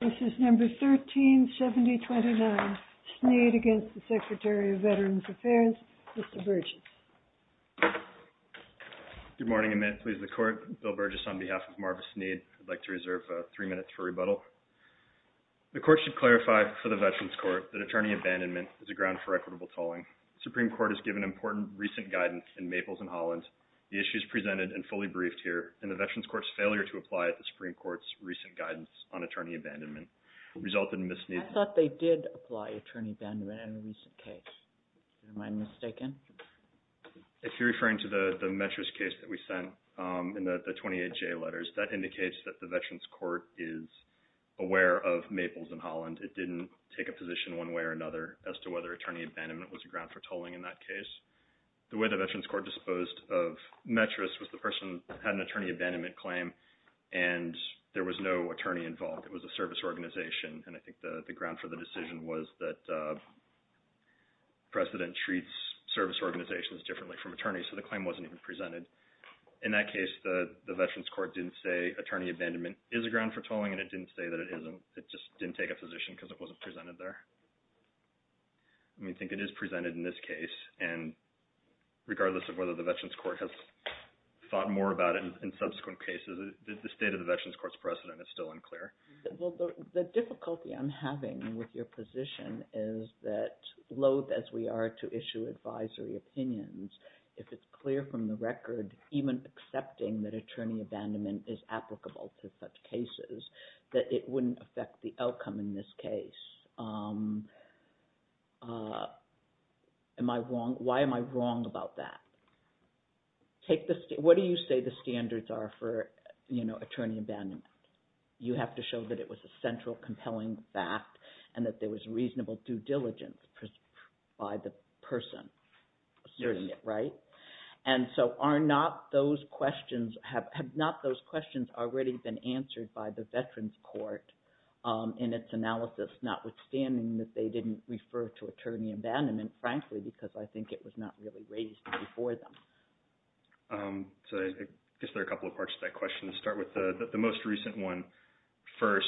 This is number 137029, Sneed against the Secretary of Veterans Affairs, Mr. Burgess. Good morning and may it please the Court, Bill Burgess on behalf of Marva Sneed. I'd like to reserve three minutes for rebuttal. The Court should clarify for the Veterans Court that attorney abandonment is a ground for equitable tolling. The Supreme Court has given important recent guidance in Maples and Holland, the issues presented and fully briefed here, and the Veterans Court's failure to apply the Supreme Court's recent guidance on attorney abandonment resulted in misuse. I thought they did apply attorney abandonment in a recent case. Am I mistaken? If you're referring to the Metris case that we sent in the 28J letters, that indicates that the Veterans Court is aware of Maples and Holland. It didn't take a position one way or another as to whether attorney abandonment was a ground for tolling in that case. The way the Veterans Court disposed of Metris was the person had an attorney abandonment claim and there was no attorney involved. It was a service organization, and I think the ground for the decision was that precedent treats service organizations differently from attorneys, so the claim wasn't even presented. In that case, the Veterans Court didn't say attorney abandonment is a ground for tolling and it didn't say that it isn't. It just didn't take a position because it wasn't presented there. I think it is presented in this case, and regardless of whether the Veterans Court has thought more about it in subsequent cases, the state of the Veterans Court's precedent is still unclear. The difficulty I'm having with your position is that loathed as we are to issue advisory opinions, if it's clear from the record, even accepting that attorney abandonment is a ground for tolling in that case, why am I wrong about that? What do you say the standards are for attorney abandonment? You have to show that it was a central compelling fact and that there was reasonable due diligence by the person asserting it, right? And so have not those questions already been answered by the Veterans Court in its analysis, notwithstanding that they didn't refer to attorney abandonment, frankly, because I think it was not really raised before them. So I guess there are a couple of parts to that question. Let's start with the most recent one first.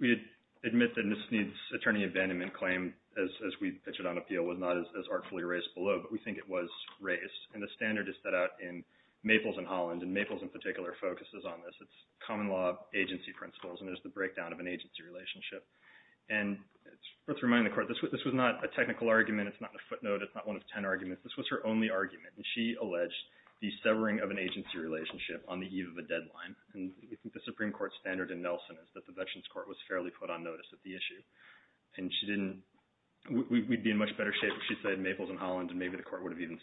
We admit that Ms. Sneed's attorney abandonment claim, as we pitched it on appeal, was not as artfully raised below, but we think it was raised. And the standard is set out in particular focuses on this. It's common law agency principles. And there's the breakdown of an agency relationship. And let's remind the court, this was not a technical argument. It's not a footnote. It's not one of 10 arguments. This was her only argument. And she alleged the severing of an agency relationship on the eve of a deadline. And I think the Supreme Court standard in Nelson is that the Veterans Court was fairly put on notice of the issue. And she didn't, we'd be in much better shape if she said Maples and Holland, and maybe the court would have even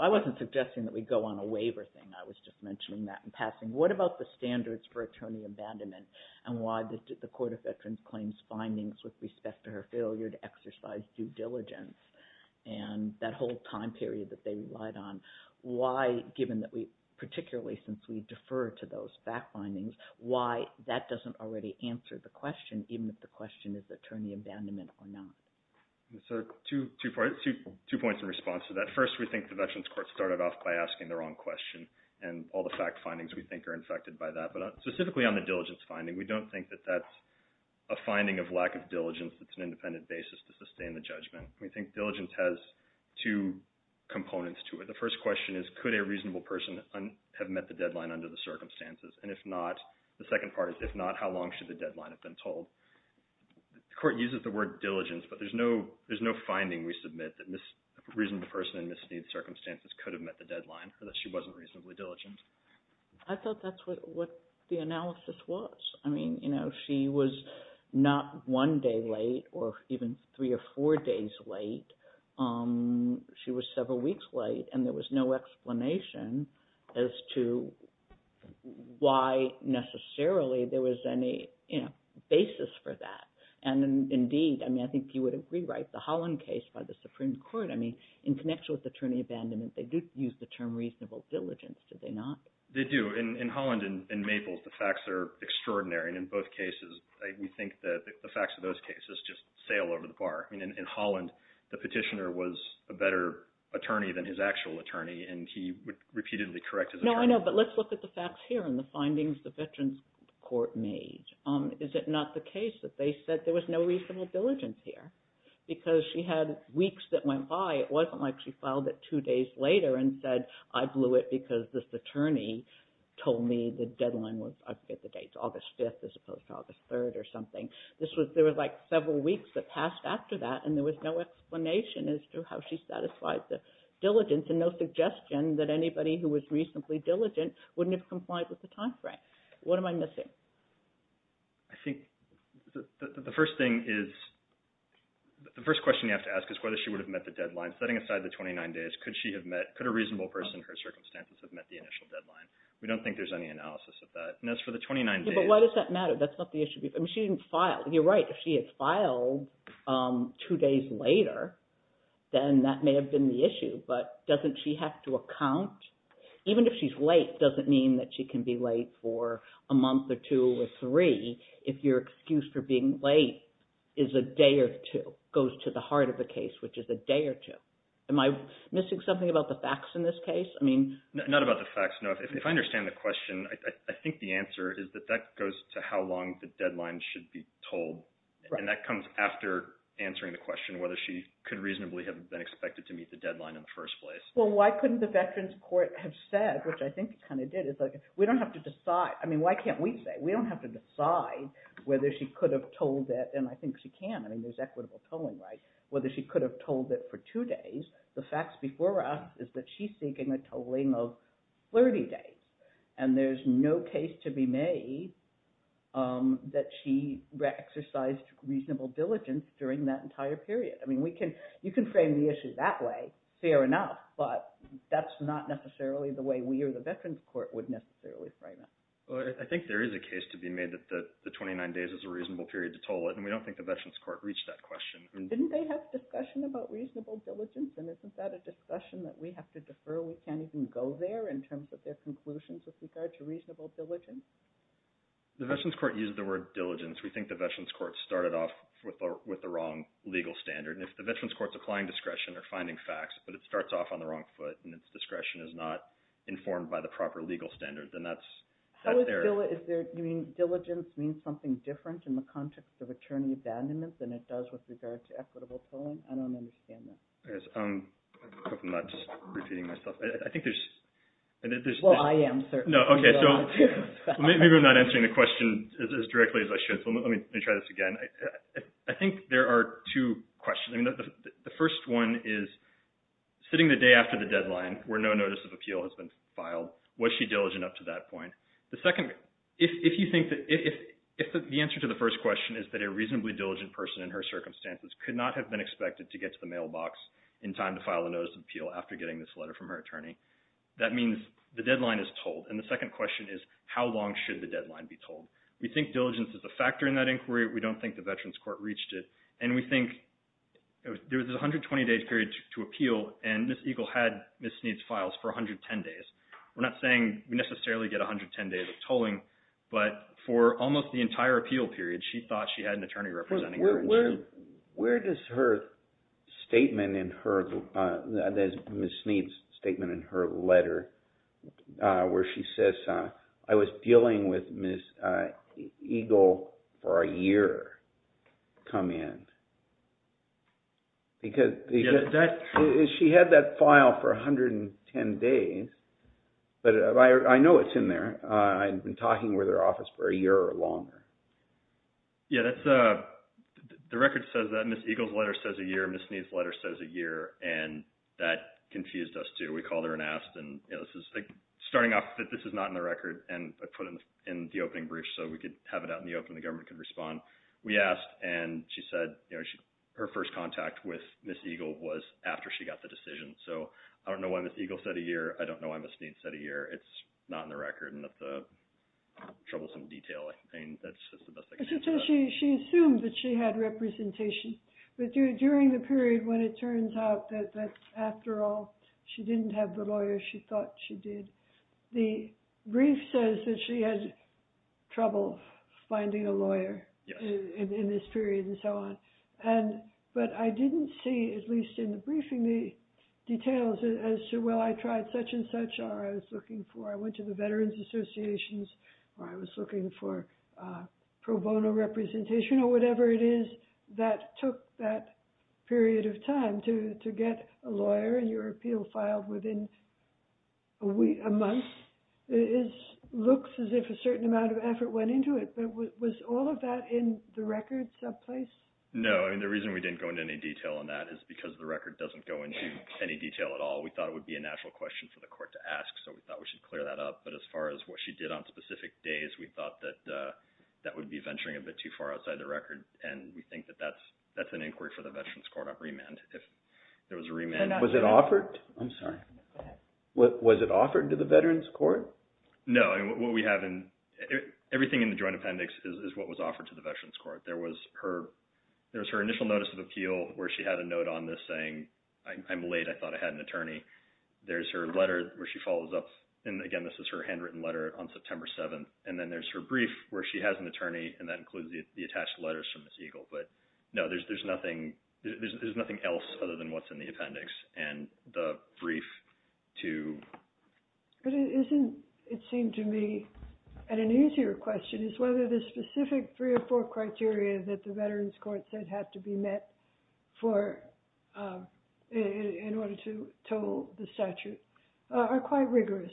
I wasn't suggesting that we go on a waiver thing. I was just mentioning that in passing. What about the standards for attorney abandonment? And why did the Court of Veterans Claims findings with respect to her failure to exercise due diligence? And that whole time period that they relied on? Why, given that we particularly since we defer to those fact findings, why that doesn't already answer the question, even if the question is attorney abandonment or not? So two points in response to that. First, we think the Veterans Court started off by asking the wrong question. And all the fact findings we think are infected by that. But specifically on the diligence finding, we don't think that that's a finding of lack of diligence that's an independent basis to sustain the judgment. We think diligence has two components to it. The first question is, could a reasonable person have met the deadline under the circumstances? And if not, the second part is, if not, how long should the deadline have been told? The Court uses the word diligence, but there's no finding we submit that a reasonable person in misdemeanor circumstances could have met the deadline so that she wasn't reasonably diligent. I thought that's what the analysis was. I mean, she was not one day late or even three or four days late. She was several weeks late. And there was no explanation as to why necessarily there was any basis for that. And indeed, I mean, I think you would agree, right, the Holland case by the Supreme Court, I mean, in connection with attorney abandonment, they did use the term reasonable diligence, did they not? They do. In Holland and Maples, the facts are extraordinary. And in both cases, we think that the facts of those cases just sail over the bar. I mean, in Holland, the petitioner was a better attorney than his actual attorney, and he would repeatedly correct his attorney. No, I know. But let's look at the facts here and the findings the Veterans Court made. Is it not the case that they said there was no reasonable diligence here? Because she had weeks that went by. It wasn't like she filed it two days later and said, I blew it because this attorney told me the deadline was, I forget the dates, August 5th as opposed to August 3rd or something. There was like several weeks that passed after that, and there was no explanation as to how she satisfied the diligence and no suggestion that she was missing. I think the first thing is, the first question you have to ask is whether she would have met the deadline. Setting aside the 29 days, could she have met, could a reasonable person in her circumstances have met the initial deadline? We don't think there's any analysis of that. And as for the 29 days. Yeah, but why does that matter? That's not the issue. I mean, she didn't file. You're right. If she had filed two days later, then that may have been the issue. But doesn't she have to account? Even if she's late, doesn't mean that she can be late for a month or two or three. If your excuse for being late is a day or two, goes to the heart of the case, which is a day or two. Am I missing something about the facts in this case? I mean. Not about the facts. No. If I understand the question, I think the answer is that that goes to how long the deadline should be told. And that comes after answering the question, whether she could reasonably have been expected to meet the deadline in the first place. Well, why couldn't the Veterans Court have said, which I think it kind of did, it's like, we don't have to decide. I mean, why can't we say? We don't have to decide whether she could have told it. And I think she can. I mean, there's equitable tolling, right? Whether she could have told it for two days. The facts before us is that she's seeking a tolling of 30 days. And there's no case to be made that she exercised reasonable diligence during that entire period. I mean, we can, you can frame the issue that way, fair enough. But that's not necessarily the way we or the Veterans Court would necessarily frame it. Well, I think there is a case to be made that the 29 days is a reasonable period to toll it. And we don't think the Veterans Court reached that question. Didn't they have discussion about reasonable diligence? And isn't that a discussion that we have to defer? We can't even go there in terms of their conclusions with regard to reasonable diligence? The Veterans Court used the word diligence. We think the Veterans Court started off with the wrong legal standard. And if the Veterans Court's applying discretion or finding facts, but it starts off on the wrong foot and its discretion is not informed by the proper legal standard, then that's fair. How is diligence, you mean, diligence means something different in the context of attorney abandonment than it does with regard to equitable tolling? I don't understand that. I hope I'm not just repeating myself. I think there's... Well, I am, sir. No, okay. Maybe I'm not answering the question as directly as I should. So let me try this again. I think there are two questions. The first one is, sitting the day after the deadline where no notice of appeal has been filed, was she diligent up to that point? The second, if you think that... If the answer to the first question is that a reasonably diligent person in her circumstances could not have been expected to get to the mailbox in time to file a notice of appeal after getting this letter from her attorney, that means the deadline is tolled. And the second question is, how long should the deadline be tolled? We think diligence is a factor in that inquiry. We don't think the Veterans Court reached it. And we think there was a 120-day period to appeal, and Ms. Eagle had Ms. Snead's files for 110 days. We're not saying we necessarily get 110 days of tolling, but for almost the entire appeal period, she thought she had an attorney representing her. Where does her statement in her... There's Ms. Snead's statement in her letter where she says, I was dealing with Ms. Eagle for a year to come in. Because she had that file for 110 days, but I know it's in there. I've been talking with her office for a year or longer. Yeah, the record says that Ms. Eagle's letter says a year, Ms. Snead confused us too. We called her and asked, and this is starting off that this is not in the record, and I put it in the opening brief so we could have it out in the open, the government could respond. We asked, and she said her first contact with Ms. Eagle was after she got the decision. So I don't know why Ms. Eagle said a year, I don't know why Ms. Snead said a year, it's not in the record, and that's a troublesome detail. I mean, that's just the best I can say. She assumed that she had representation, but during the period when it turns out that after all, she didn't have the lawyer she thought she did, the brief says that she had trouble finding a lawyer in this period and so on. But I didn't see, at least in the briefing, the details as to, well, I tried such and such, or I was looking for, I went to the Veterans Associations, or I was looking for pro bono representation, or whatever it is that took that lawyer, and your appeal filed within a month. It looks as if a certain amount of effort went into it, but was all of that in the record someplace? No, and the reason we didn't go into any detail on that is because the record doesn't go into any detail at all. We thought it would be a natural question for the court to ask, so we thought we should clear that up, but as far as what she did on specific days, we thought that that would be venturing a bit too far outside the record, and we think that that's an inquiry for the Veterans Court on remand. If there was a remand. Was it offered? I'm sorry, go ahead. Was it offered to the Veterans Court? No, and what we have in, everything in the Joint Appendix is what was offered to the Veterans Court. There was her initial notice of appeal where she had a note on this saying, I'm late, I thought I had an attorney. There's her letter where she follows up, and again, this is her handwritten letter on September 7th, and then there's her brief where she has an attorney, and that includes the attached letters from Ms. Eagle, but no, there's nothing else other than what's in the appendix, and the brief too. But it isn't, it seemed to me, and an easier question is whether the specific three or four criteria that the Veterans Court said had to be met for, in order to toll the statute, are quite rigorous,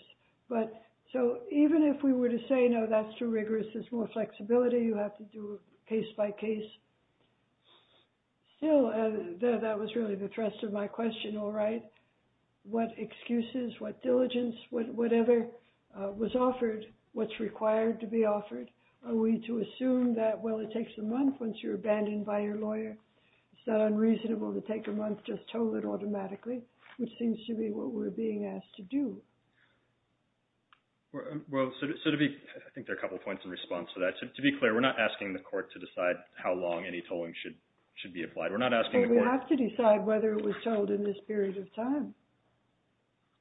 but so even if we were to say, no, that's too rigorous, there's more flexibility, you have to do case by case. Still, that was really the thrust of my question, all right, what excuses, what diligence, whatever was offered, what's required to be offered, are we to assume that, well, it takes a month once you're abandoned by your lawyer, it's not unreasonable to take a month just told it automatically, which seems to me what we're being asked to do. Well, so to be, I think there are a couple points in response to that. To be clear, we're not asking the court to decide how long any tolling should be applied. We're not asking the court- Well, we have to decide whether it was told in this period of time,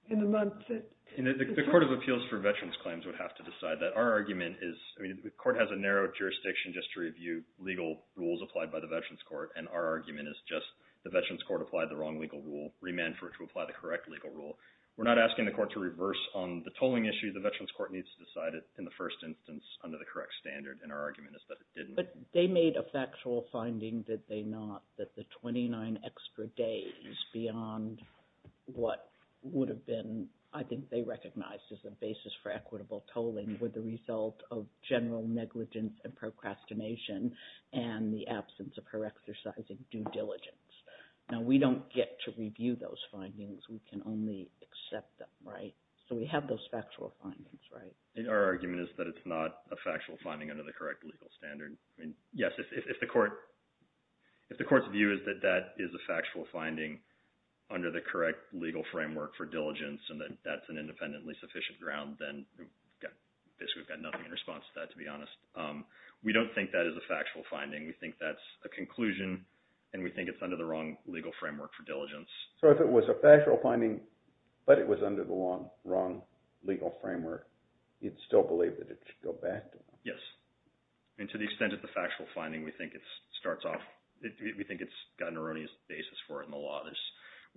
in the month that- And the Court of Appeals for Veterans Claims would have to decide that. Our argument is, I mean, the court has a narrow jurisdiction just to review legal rules applied by the Veterans Court, and our argument is just the Veterans Court applied the wrong legal rule, remand for it to apply the correct legal rule. We're not asking the court to reverse on the tolling issue, the Veterans Court needs to decide it in the first instance under the correct standard, and our argument is that it didn't. But they made a factual finding, did they not, that the 29 extra days beyond what would have been, I think they recognized as a basis for equitable tolling were the result of general negligence and procrastination and the absence of her exercising due diligence. Now, we don't get to review those findings, we can only accept them, right? So we have those factual findings, right? And our argument is that it's not a factual finding under the correct legal standard. I mean, yes, if the court's view is that that is a factual finding under the correct legal framework for diligence and that that's an independently sufficient ground, then basically we've got nothing in response to that, to be honest. We don't think that is a factual finding, we think that's a conclusion, and we think it's under the wrong legal framework for diligence. So if it was a factual finding, but it was under the wrong legal framework, you'd still believe that it should go back? Yes, and to the extent of the factual finding, we think it starts off, we think it's got an erroneous basis for it in the law.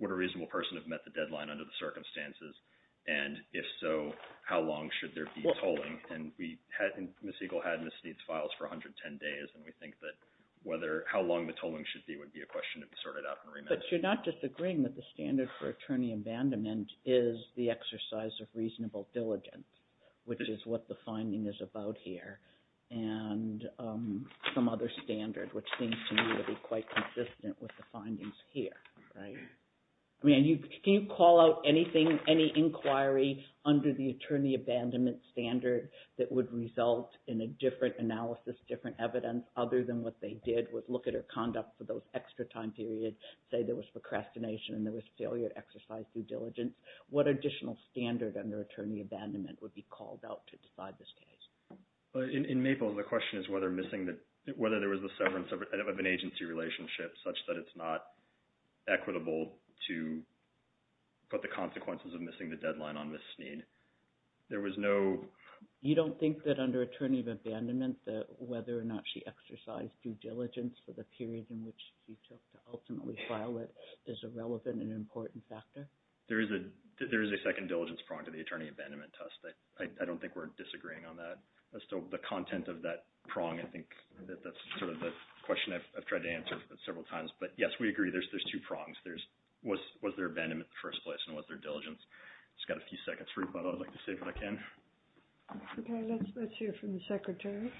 Would a reasonable person have met the deadline under the circumstances, and if so, how long should there be a tolling? And Ms. Siegel had Ms. Steed's files for 110 days, and we think that how long the tolling should be would be a question to be sorted out and remanded. But you're not disagreeing that the standard for attorney abandonment is the exercise of reasonable diligence, which is what the finding is about here, and some other standard which seems to me to be quite consistent with the findings here, right? I mean, can you call out anything, any inquiry under the attorney abandonment standard that would result in a different analysis, different evidence, other than what they did, would look at her conduct for those extra time periods, say there was procrastination and there was failure to exercise due diligence, what additional standard under attorney abandonment would be called out to decide this case? In MAPLES, the question is whether there was a severance of an agency relationship such that it's not equitable to put the consequences of missing the deadline on Ms. Steed. There was no... You don't think that under attorney abandonment that whether or not she exercised due diligence for the period in which she took to ultimately file it is a relevant and important factor? There is a second diligence prong to the attorney abandonment test. I don't think we're disagreeing on that. Still, the content of that prong, I think that that's sort of the two prongs. Was there abandonment in the first place and was there diligence? Just got a few seconds for you, but I would like to see if I can. Okay, let's hear from the secretary.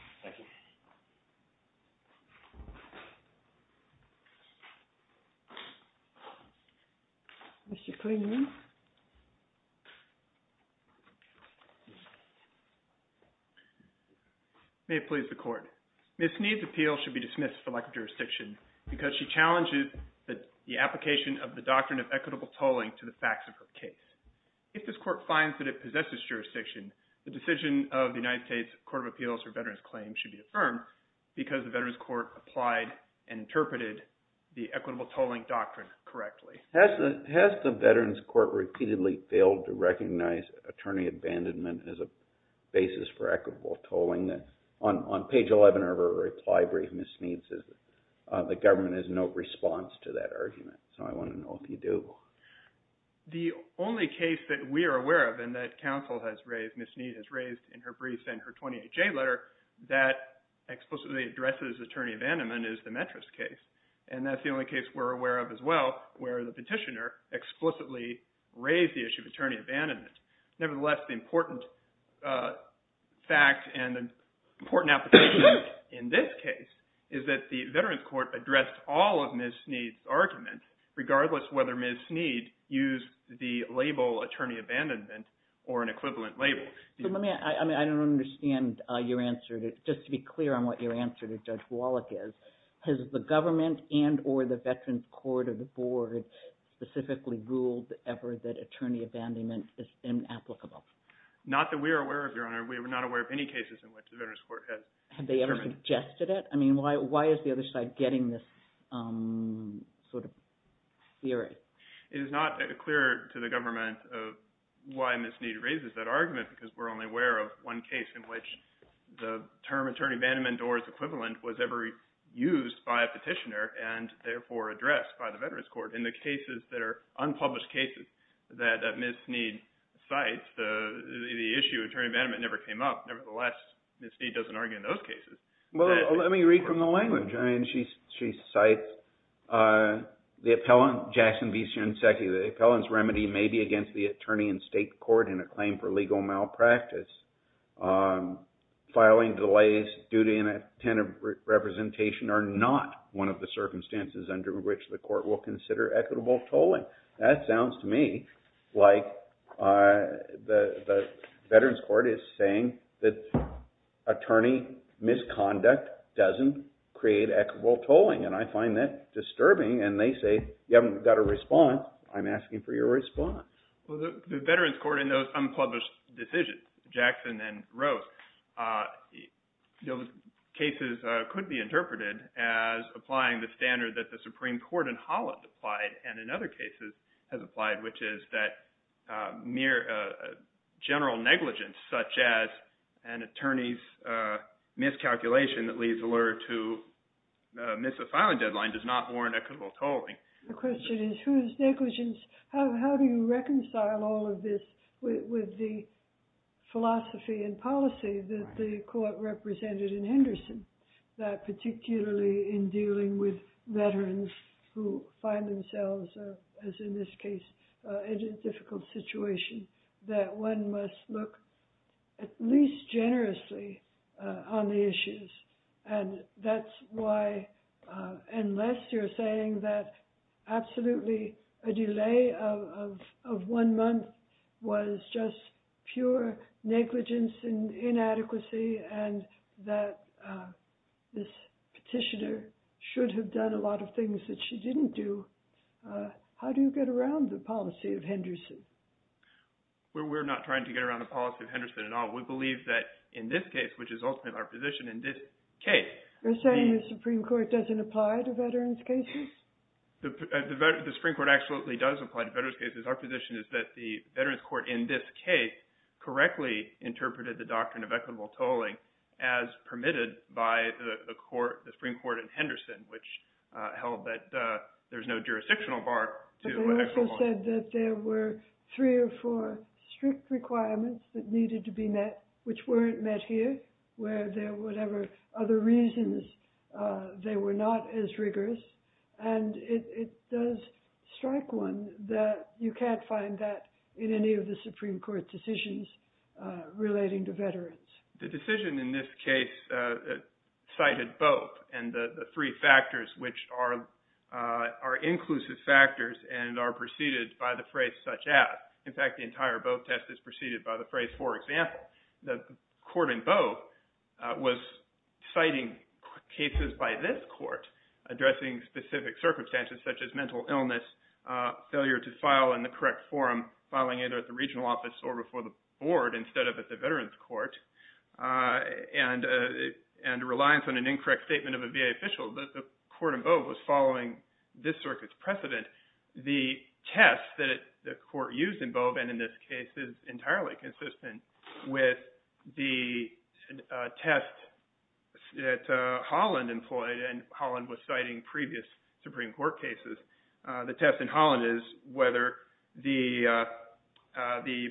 Mr. Klingman. May it please the court. Ms. Steed's appeal should be dismissed for lack of jurisdiction because she challenges the application of the doctrine of equitable tolling to the facts of her case. If this court finds that it possesses jurisdiction, the decision of the United States Court of Appeals for Veterans Claims should be affirmed because the Veterans Court applied and interpreted the equitable tolling doctrine correctly. Has the Veterans Court repeatedly failed to recognize attorney abandonment as a basis for the government has no response to that argument? So I want to know if you do. The only case that we are aware of and that counsel has raised, Ms. Steed has raised in her brief and her 28-J letter that explicitly addresses attorney abandonment is the Metris case. And that's the only case we're aware of as well where the petitioner explicitly raised the issue of attorney abandonment. Nevertheless, the important fact and the application in this case is that the Veterans Court addressed all of Ms. Steed's argument regardless whether Ms. Steed used the label attorney abandonment or an equivalent label. I don't understand your answer. Just to be clear on what your answer to Judge Wallach is, has the government and or the Veterans Court or the board specifically ruled ever that attorney abandonment is inapplicable? Not that we are aware of, Your Honor. We are not aware of any cases in which the Veterans Court has... Have they ever suggested it? I mean, why is the other side getting this sort of theory? It is not clear to the government of why Ms. Steed raises that argument because we're only aware of one case in which the term attorney abandonment or its equivalent was ever used by a petitioner and therefore addressed by the Veterans Court. In the cases that are unpublished cases that Ms. Steed cites, the issue of attorney abandonment never came up. Nevertheless, Ms. Steed doesn't argue in those cases. Well, let me read from the language. I mean, she cites the appellant, Jackson V. Shinseki, the appellant's remedy may be against the attorney in state court in a claim for legal malpractice. Filing delays, duty and attentive representation are not one of the circumstances under which the court will consider equitable tolling. That sounds to me like the Veterans Court is saying that attorney misconduct doesn't create equitable tolling. And I find that disturbing and they say, you haven't got a response. I'm asking for your response. Well, the Veterans Court in those unpublished decisions, Jackson and Rose, cases could be interpreted as applying the standard that the Supreme Court in Holland applied and in other cases has applied, which is that mere general negligence, such as an attorney's miscalculation that leads the lawyer to miss a filing deadline does not warrant equitable tolling. The question is, whose negligence? How do you reconcile all of this with the philosophy and policy that the court represented in Henderson, that particularly in dealing with veterans who find themselves, as in this case, in a difficult situation, that one must look at least generously on the issues. And that's why, unless you're saying that absolutely a delay of one month was just pure negligence and that this petitioner should have done a lot of things that she didn't do, how do you get around the policy of Henderson? We're not trying to get around the policy of Henderson at all. We believe that in this case, which is ultimately our position in this case. You're saying the Supreme Court doesn't apply to veterans cases? The Supreme Court absolutely does apply to veterans cases. Our position is that the by the Supreme Court in Henderson, which held that there's no jurisdictional bar. But they also said that there were three or four strict requirements that needed to be met, which weren't met here, where there were other reasons they were not as rigorous. And it does strike one that you can't find that in any of the Supreme Court decisions relating to veterans. The decision in this case cited both and the three factors, which are inclusive factors and are preceded by the phrase such as. In fact, the entire Boe test is preceded by the phrase, for example, the court in Boe was citing cases by this court addressing specific circumstances, such as mental illness, failure to file in the correct forum, filing either at the regional office or before the board instead of at the veterans court and reliance on an incorrect statement of a VA official. The court in Boe was following this circuit's precedent. The test that the court used in Boe and in this case is entirely consistent with the test that Holland employed. And Holland was citing previous Supreme Court cases. The test in Holland is whether the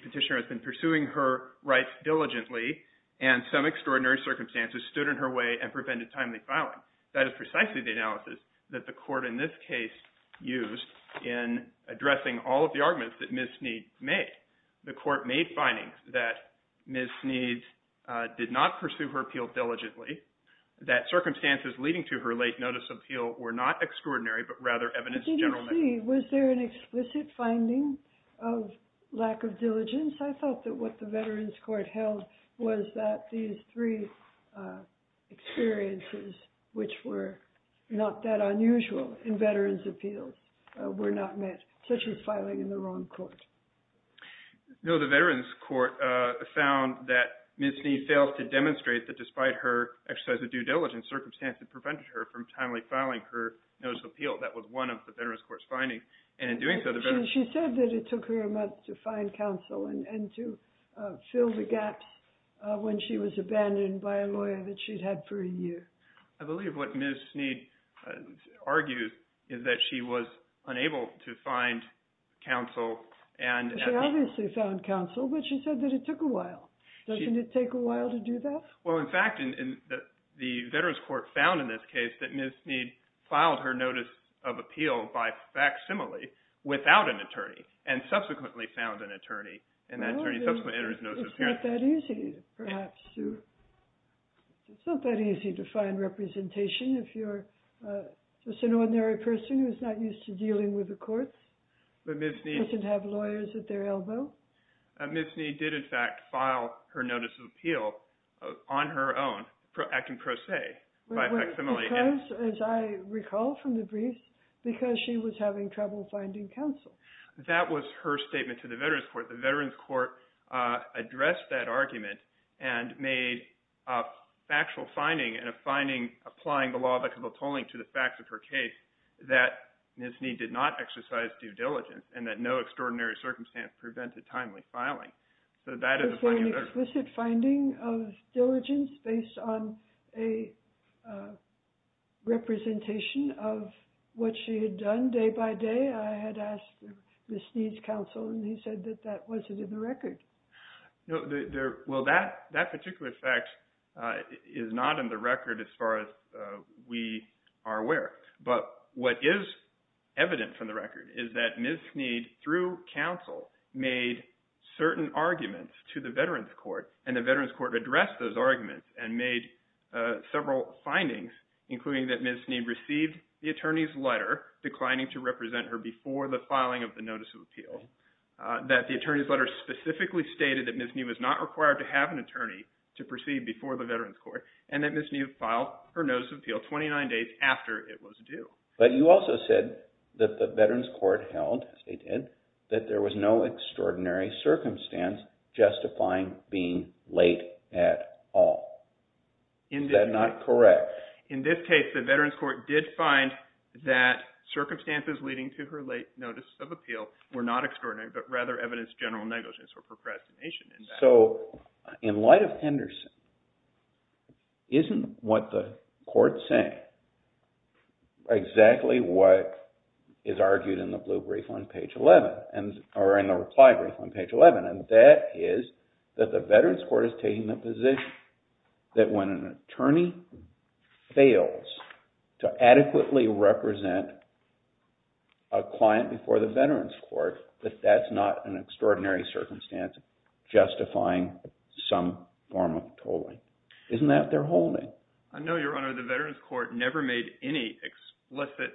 petitioner has been pursuing her rights diligently and some extraordinary circumstances stood in her way and prevented timely filing. That is precisely the analysis that the court in this case used in addressing all of the arguments that Ms. Snead made. The court made findings that Ms. Snead did not pursue her appeal diligently, that circumstances leading to her late notice appeal were not extraordinary, but rather evidence of general negligence. Was there an explicit finding of lack of diligence? I thought that what the veterans court held was that these three experiences, which were not that unusual in veterans appeals, were not met, such as filing in the wrong court. No, the veterans court found that Ms. Snead failed to demonstrate that despite her exercise of due diligence, circumstances prevented her from timely filing her notice of appeal. That was one of the veterans court's findings. She said that it took her a month to find counsel and to fill the gaps when she was abandoned by a lawyer that she'd had for a year. I believe what Ms. Snead argued is that she was unable to find counsel. She obviously found counsel, but she said that it took a while. Doesn't it take a while to do that? Well, in fact, the veterans court found in this case that Ms. Snead filed her notice of appeal by facsimile without an attorney, and subsequently found an attorney, and that attorney subsequently entered his notice of appearance. It's not that easy, perhaps. It's not that easy to find representation if you're just an ordinary person who's not used to dealing with the courts, doesn't have lawyers at their As I recall from the briefs, because she was having trouble finding counsel. That was her statement to the veterans court. The veterans court addressed that argument and made a factual finding and a finding applying the law of equitable tolling to the facts of her case that Ms. Snead did not exercise due diligence and that no extraordinary circumstance prevented timely filing. So that is a very explicit finding of diligence based on a representation of what she had done day by day. I had asked Ms. Snead's counsel, and he said that that wasn't in the record. Well, that particular fact is not in the record as far as we are aware, but what is evident from the record is that Ms. Snead, through counsel, made certain arguments to the veterans court, and the veterans court addressed those arguments and made several findings, including that Ms. Snead received the attorney's letter declining to represent her before the filing of the notice of appeal, that the attorney's letter specifically stated that Ms. Snead was not required to have an attorney to proceed before the veterans court, and that Ms. Snead filed her notice of appeal, that the veterans court held, as they did, that there was no extraordinary circumstance justifying being late at all. Is that not correct? In this case, the veterans court did find that circumstances leading to her late notice of appeal were not extraordinary, but rather evidence of general negligence or procrastination. So in light of Henderson, isn't what the court is saying exactly what is argued in the blue brief on page 11, or in the reply brief on page 11, and that is that the veterans court is taking the position that when an attorney fails to adequately represent a client before the veterans court, that that's not an extraordinary circumstance justifying some form of tolling? Isn't that what they're holding? I know, Your Honor, the veterans court never made any explicit...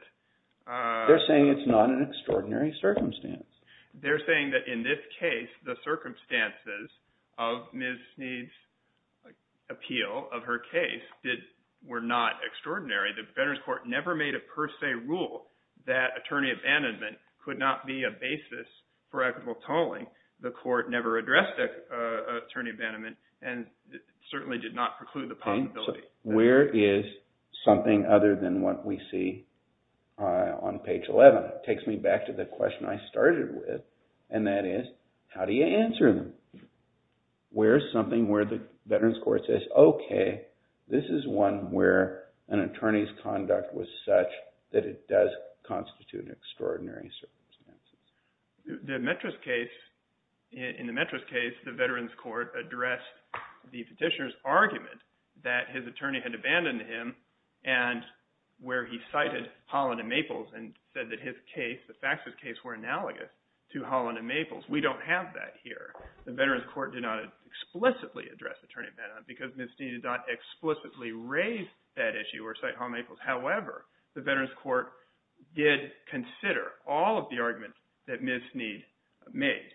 They're saying it's not an extraordinary circumstance. They're saying that in this case, the circumstances of Ms. Snead's appeal of her case were not extraordinary. The veterans court never made a per se rule that attorney abandonment could not be a attorney abandonment, and certainly did not preclude the possibility. Where is something other than what we see on page 11? It takes me back to the question I started with, and that is, how do you answer them? Where is something where the veterans court says, okay, this is one where an attorney's conduct was such that it does constitute extraordinary circumstances? The Metras case, in the Metras case, the veterans court addressed the petitioner's argument that his attorney had abandoned him, and where he cited Holland and Maples, and said that his case, the Fax's case, were analogous to Holland and Maples. We don't have that here. The veterans court did not explicitly address attorney abandonment because Ms. Snead did not explicitly raise that issue or cite Holland and Maples. However, the veterans court did consider all of the arguments that Ms. Snead made,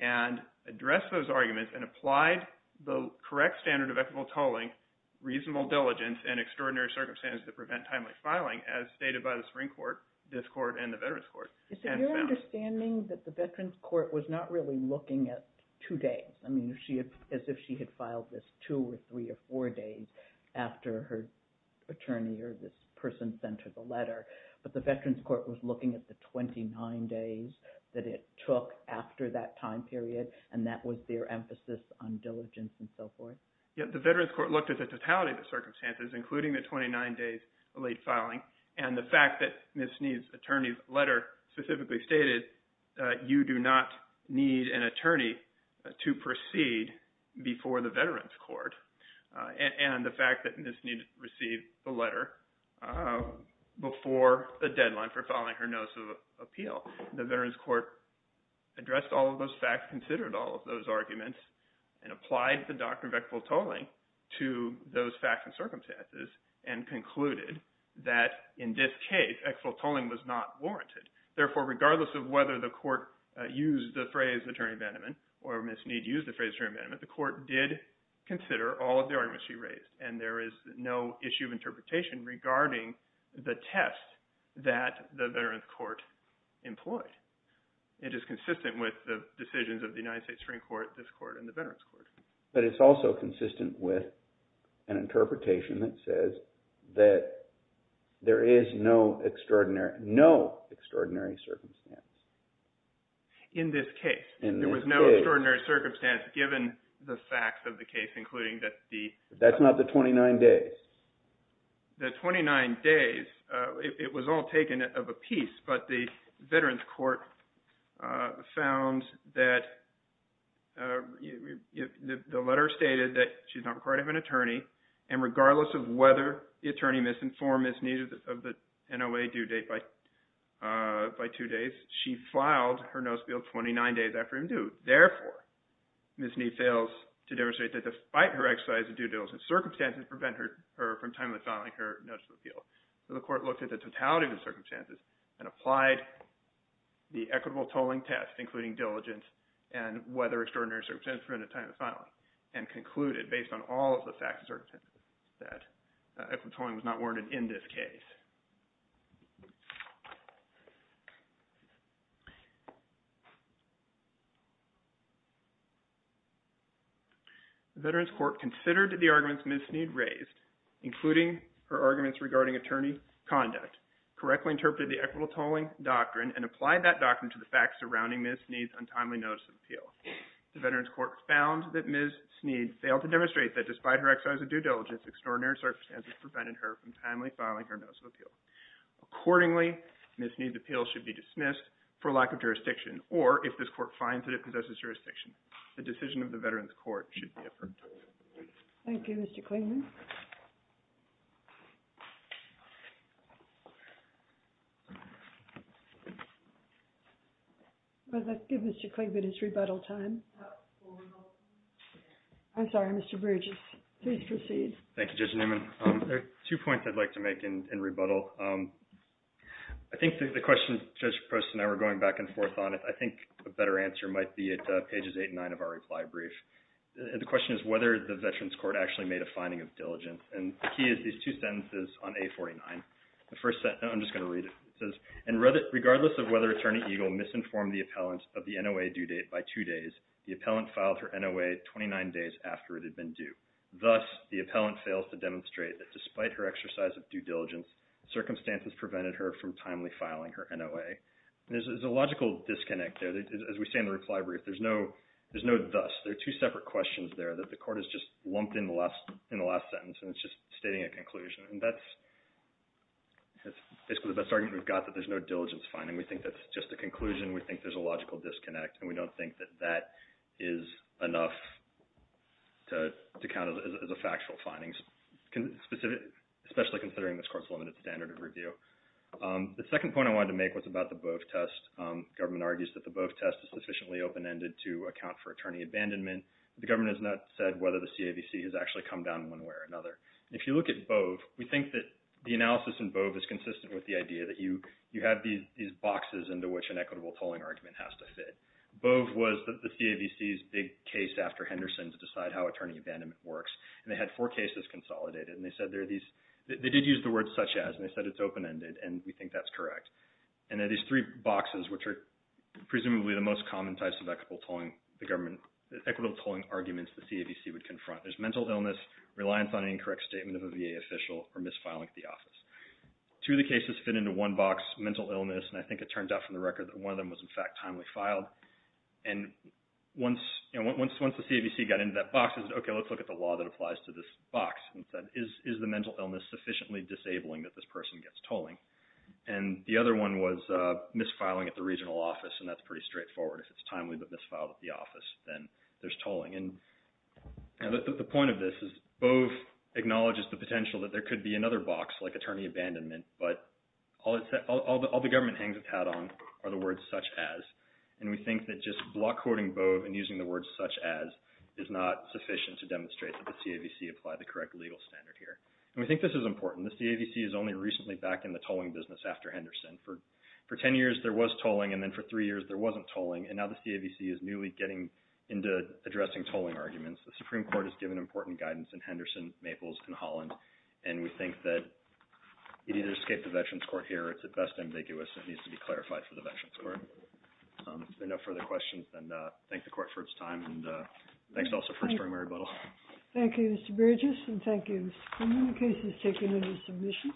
and addressed those arguments, and applied the correct standard of equitable tolling, reasonable diligence, and extraordinary circumstances that prevent timely filing, as stated by the Supreme Court, this court, and the veterans court. Is it your understanding that the veterans court was not really looking at two days? I mean, as if she had filed this two, or three, or four days after her attorney, or this person sent her the letter, but the veterans court was looking at the 29 days that it took after that time period, and that was their emphasis on diligence, and so forth? Yeah, the veterans court looked at the totality of the circumstances, including the 29 days of late filing, and the fact that Ms. Snead's attorney's letter specifically stated, you do not need an attorney to proceed before the veterans court, and the fact that Ms. Snead received the letter before the deadline for filing her notice of appeal. The veterans court addressed all of those facts, considered all of those arguments, and applied the doctrine of equitable tolling to those facts and circumstances, and concluded that, in this case, equitable the court used the phrase attorney abandonment, or Ms. Snead used the phrase attorney abandonment, the court did consider all of the arguments she raised, and there is no issue of interpretation regarding the test that the veterans court employed. It is consistent with the decisions of the United States Supreme Court, this court, and the veterans court. But it's also consistent with an interpretation that says that there is no extraordinary circumstance. In this case, there was no extraordinary circumstance given the facts of the case, including that the... That's not the 29 days. The 29 days, it was all taken of a piece, but the veterans court found that the letter stated that she's not required to have an attorney, and regardless of whether the attorney misinformed Ms. Snead of the NOA due date by two days, she filed her notice of appeal 29 days after him due. Therefore, Ms. Snead fails to demonstrate that despite her exercise of due diligence, circumstances prevent her from timely filing her notice of appeal. So the court looked at the totality of the circumstances and applied the equitable tolling test, including diligence and whether extraordinary circumstances prevent a time of filing, and concluded based on all of the facts that equitable tolling was not warranted in this case. The veterans court considered the arguments Ms. Snead raised, including her arguments regarding attorney conduct, correctly interpreted the equitable tolling doctrine and applied that doctrine to the facts surrounding Ms. Snead's untimely notice of appeal. The veterans court found that Ms. Snead failed to demonstrate that despite her exercise of due diligence, extraordinary circumstances prevented her from timely filing her notice of appeal. Accordingly, Ms. Snead's appeal should be dismissed for lack of jurisdiction, or if this court finds that it possesses jurisdiction, the decision of the veterans court should be approved. Thank you, Mr. Klingman. Well, let's give Mr. Klingman his rebuttal time. I'm sorry, Mr. Bridges, please proceed. Thank you, Judge Newman. There are two points I'd like to make in rebuttal. I think the question Judge Post and I were going back and forth on it, I think a better answer might be at pages eight and nine of our reply brief. The question is whether the veterans court actually made a finding of diligence. And the key is these two sentences on A49. The first sentence, I'm just going to read it. It says, and regardless of whether attorney Eagle misinformed the appellant of the NOA due date by two days, the appellant filed her NOA 29 days after it had been due. Thus, the appellant fails to demonstrate that despite her exercise of due diligence, circumstances prevented her from timely filing her NOA. There's a logical disconnect there. As we say in the reply brief, there's no thus. There are two separate questions there that the court has just lumped in the last sentence, and it's just stating a conclusion. And that's basically the best argument we've got, that there's no diligence finding. We think that's just a conclusion. We think there's a logical disconnect. And we don't think that that is enough to count as a factual finding, especially considering this court's limited standard of review. The second point I wanted to make was about the BOEF test. Government argues that the BOEF test is sufficiently open-ended to account for attorney abandonment. The government has not said whether the CAVC has actually come down in one way or another. And if you look at BOEF, we think that the analysis in BOEF is consistent with the idea that you have these boxes into which an equitable tolling argument has to fit. BOEF was the CAVC's big case after Henderson to decide how attorney abandonment works. And they had four cases consolidated. And they said there are these, they did use the word such as, and they said it's open-ended, and we think that's correct. And there are these three boxes which are presumably the most common types of equitable tolling the government, equitable tolling arguments the CAVC would confront. There's mental illness, reliance on an incorrect statement of a VA official, or misfiling at the office. Two of the cases fit into one box, mental illness, and I think it turned out from the record that one of them was in fact timely filed. And once the CAVC got into that box, they said, okay, let's look at the law that applies to this box. And said, is the mental illness sufficiently disabling that this person gets tolling? And the other one was misfiling at the regional office, and that's pretty straightforward. If it's timely but misfiled at the office, then there's tolling. And the point of this is BOEF acknowledges the potential that there could be another box like attorney abandonment, but all the government hangs its hat on are the words such as. And we think that just block quoting BOEF and using the words such as is not sufficient to demonstrate that the CAVC applied the correct legal standard here. And we think this is important. The CAVC is only recently back in the tolling business after Henderson. For 10 years, there was tolling, and then for three years, there wasn't tolling. And now the CAVC is newly getting into addressing tolling arguments. The Supreme Court has given important guidance in Henderson, Maples, and Holland. And we think that you need to escape the Veterans Court here. It's at best ambiguous. It needs to be clarified for the Veterans Court. If there are no further questions, then thank the court for its time. And thanks also for inspiring my rebuttal. Thank you, Mr. Burgess. And thank you, Mr. Freeman. The case is taken into submission.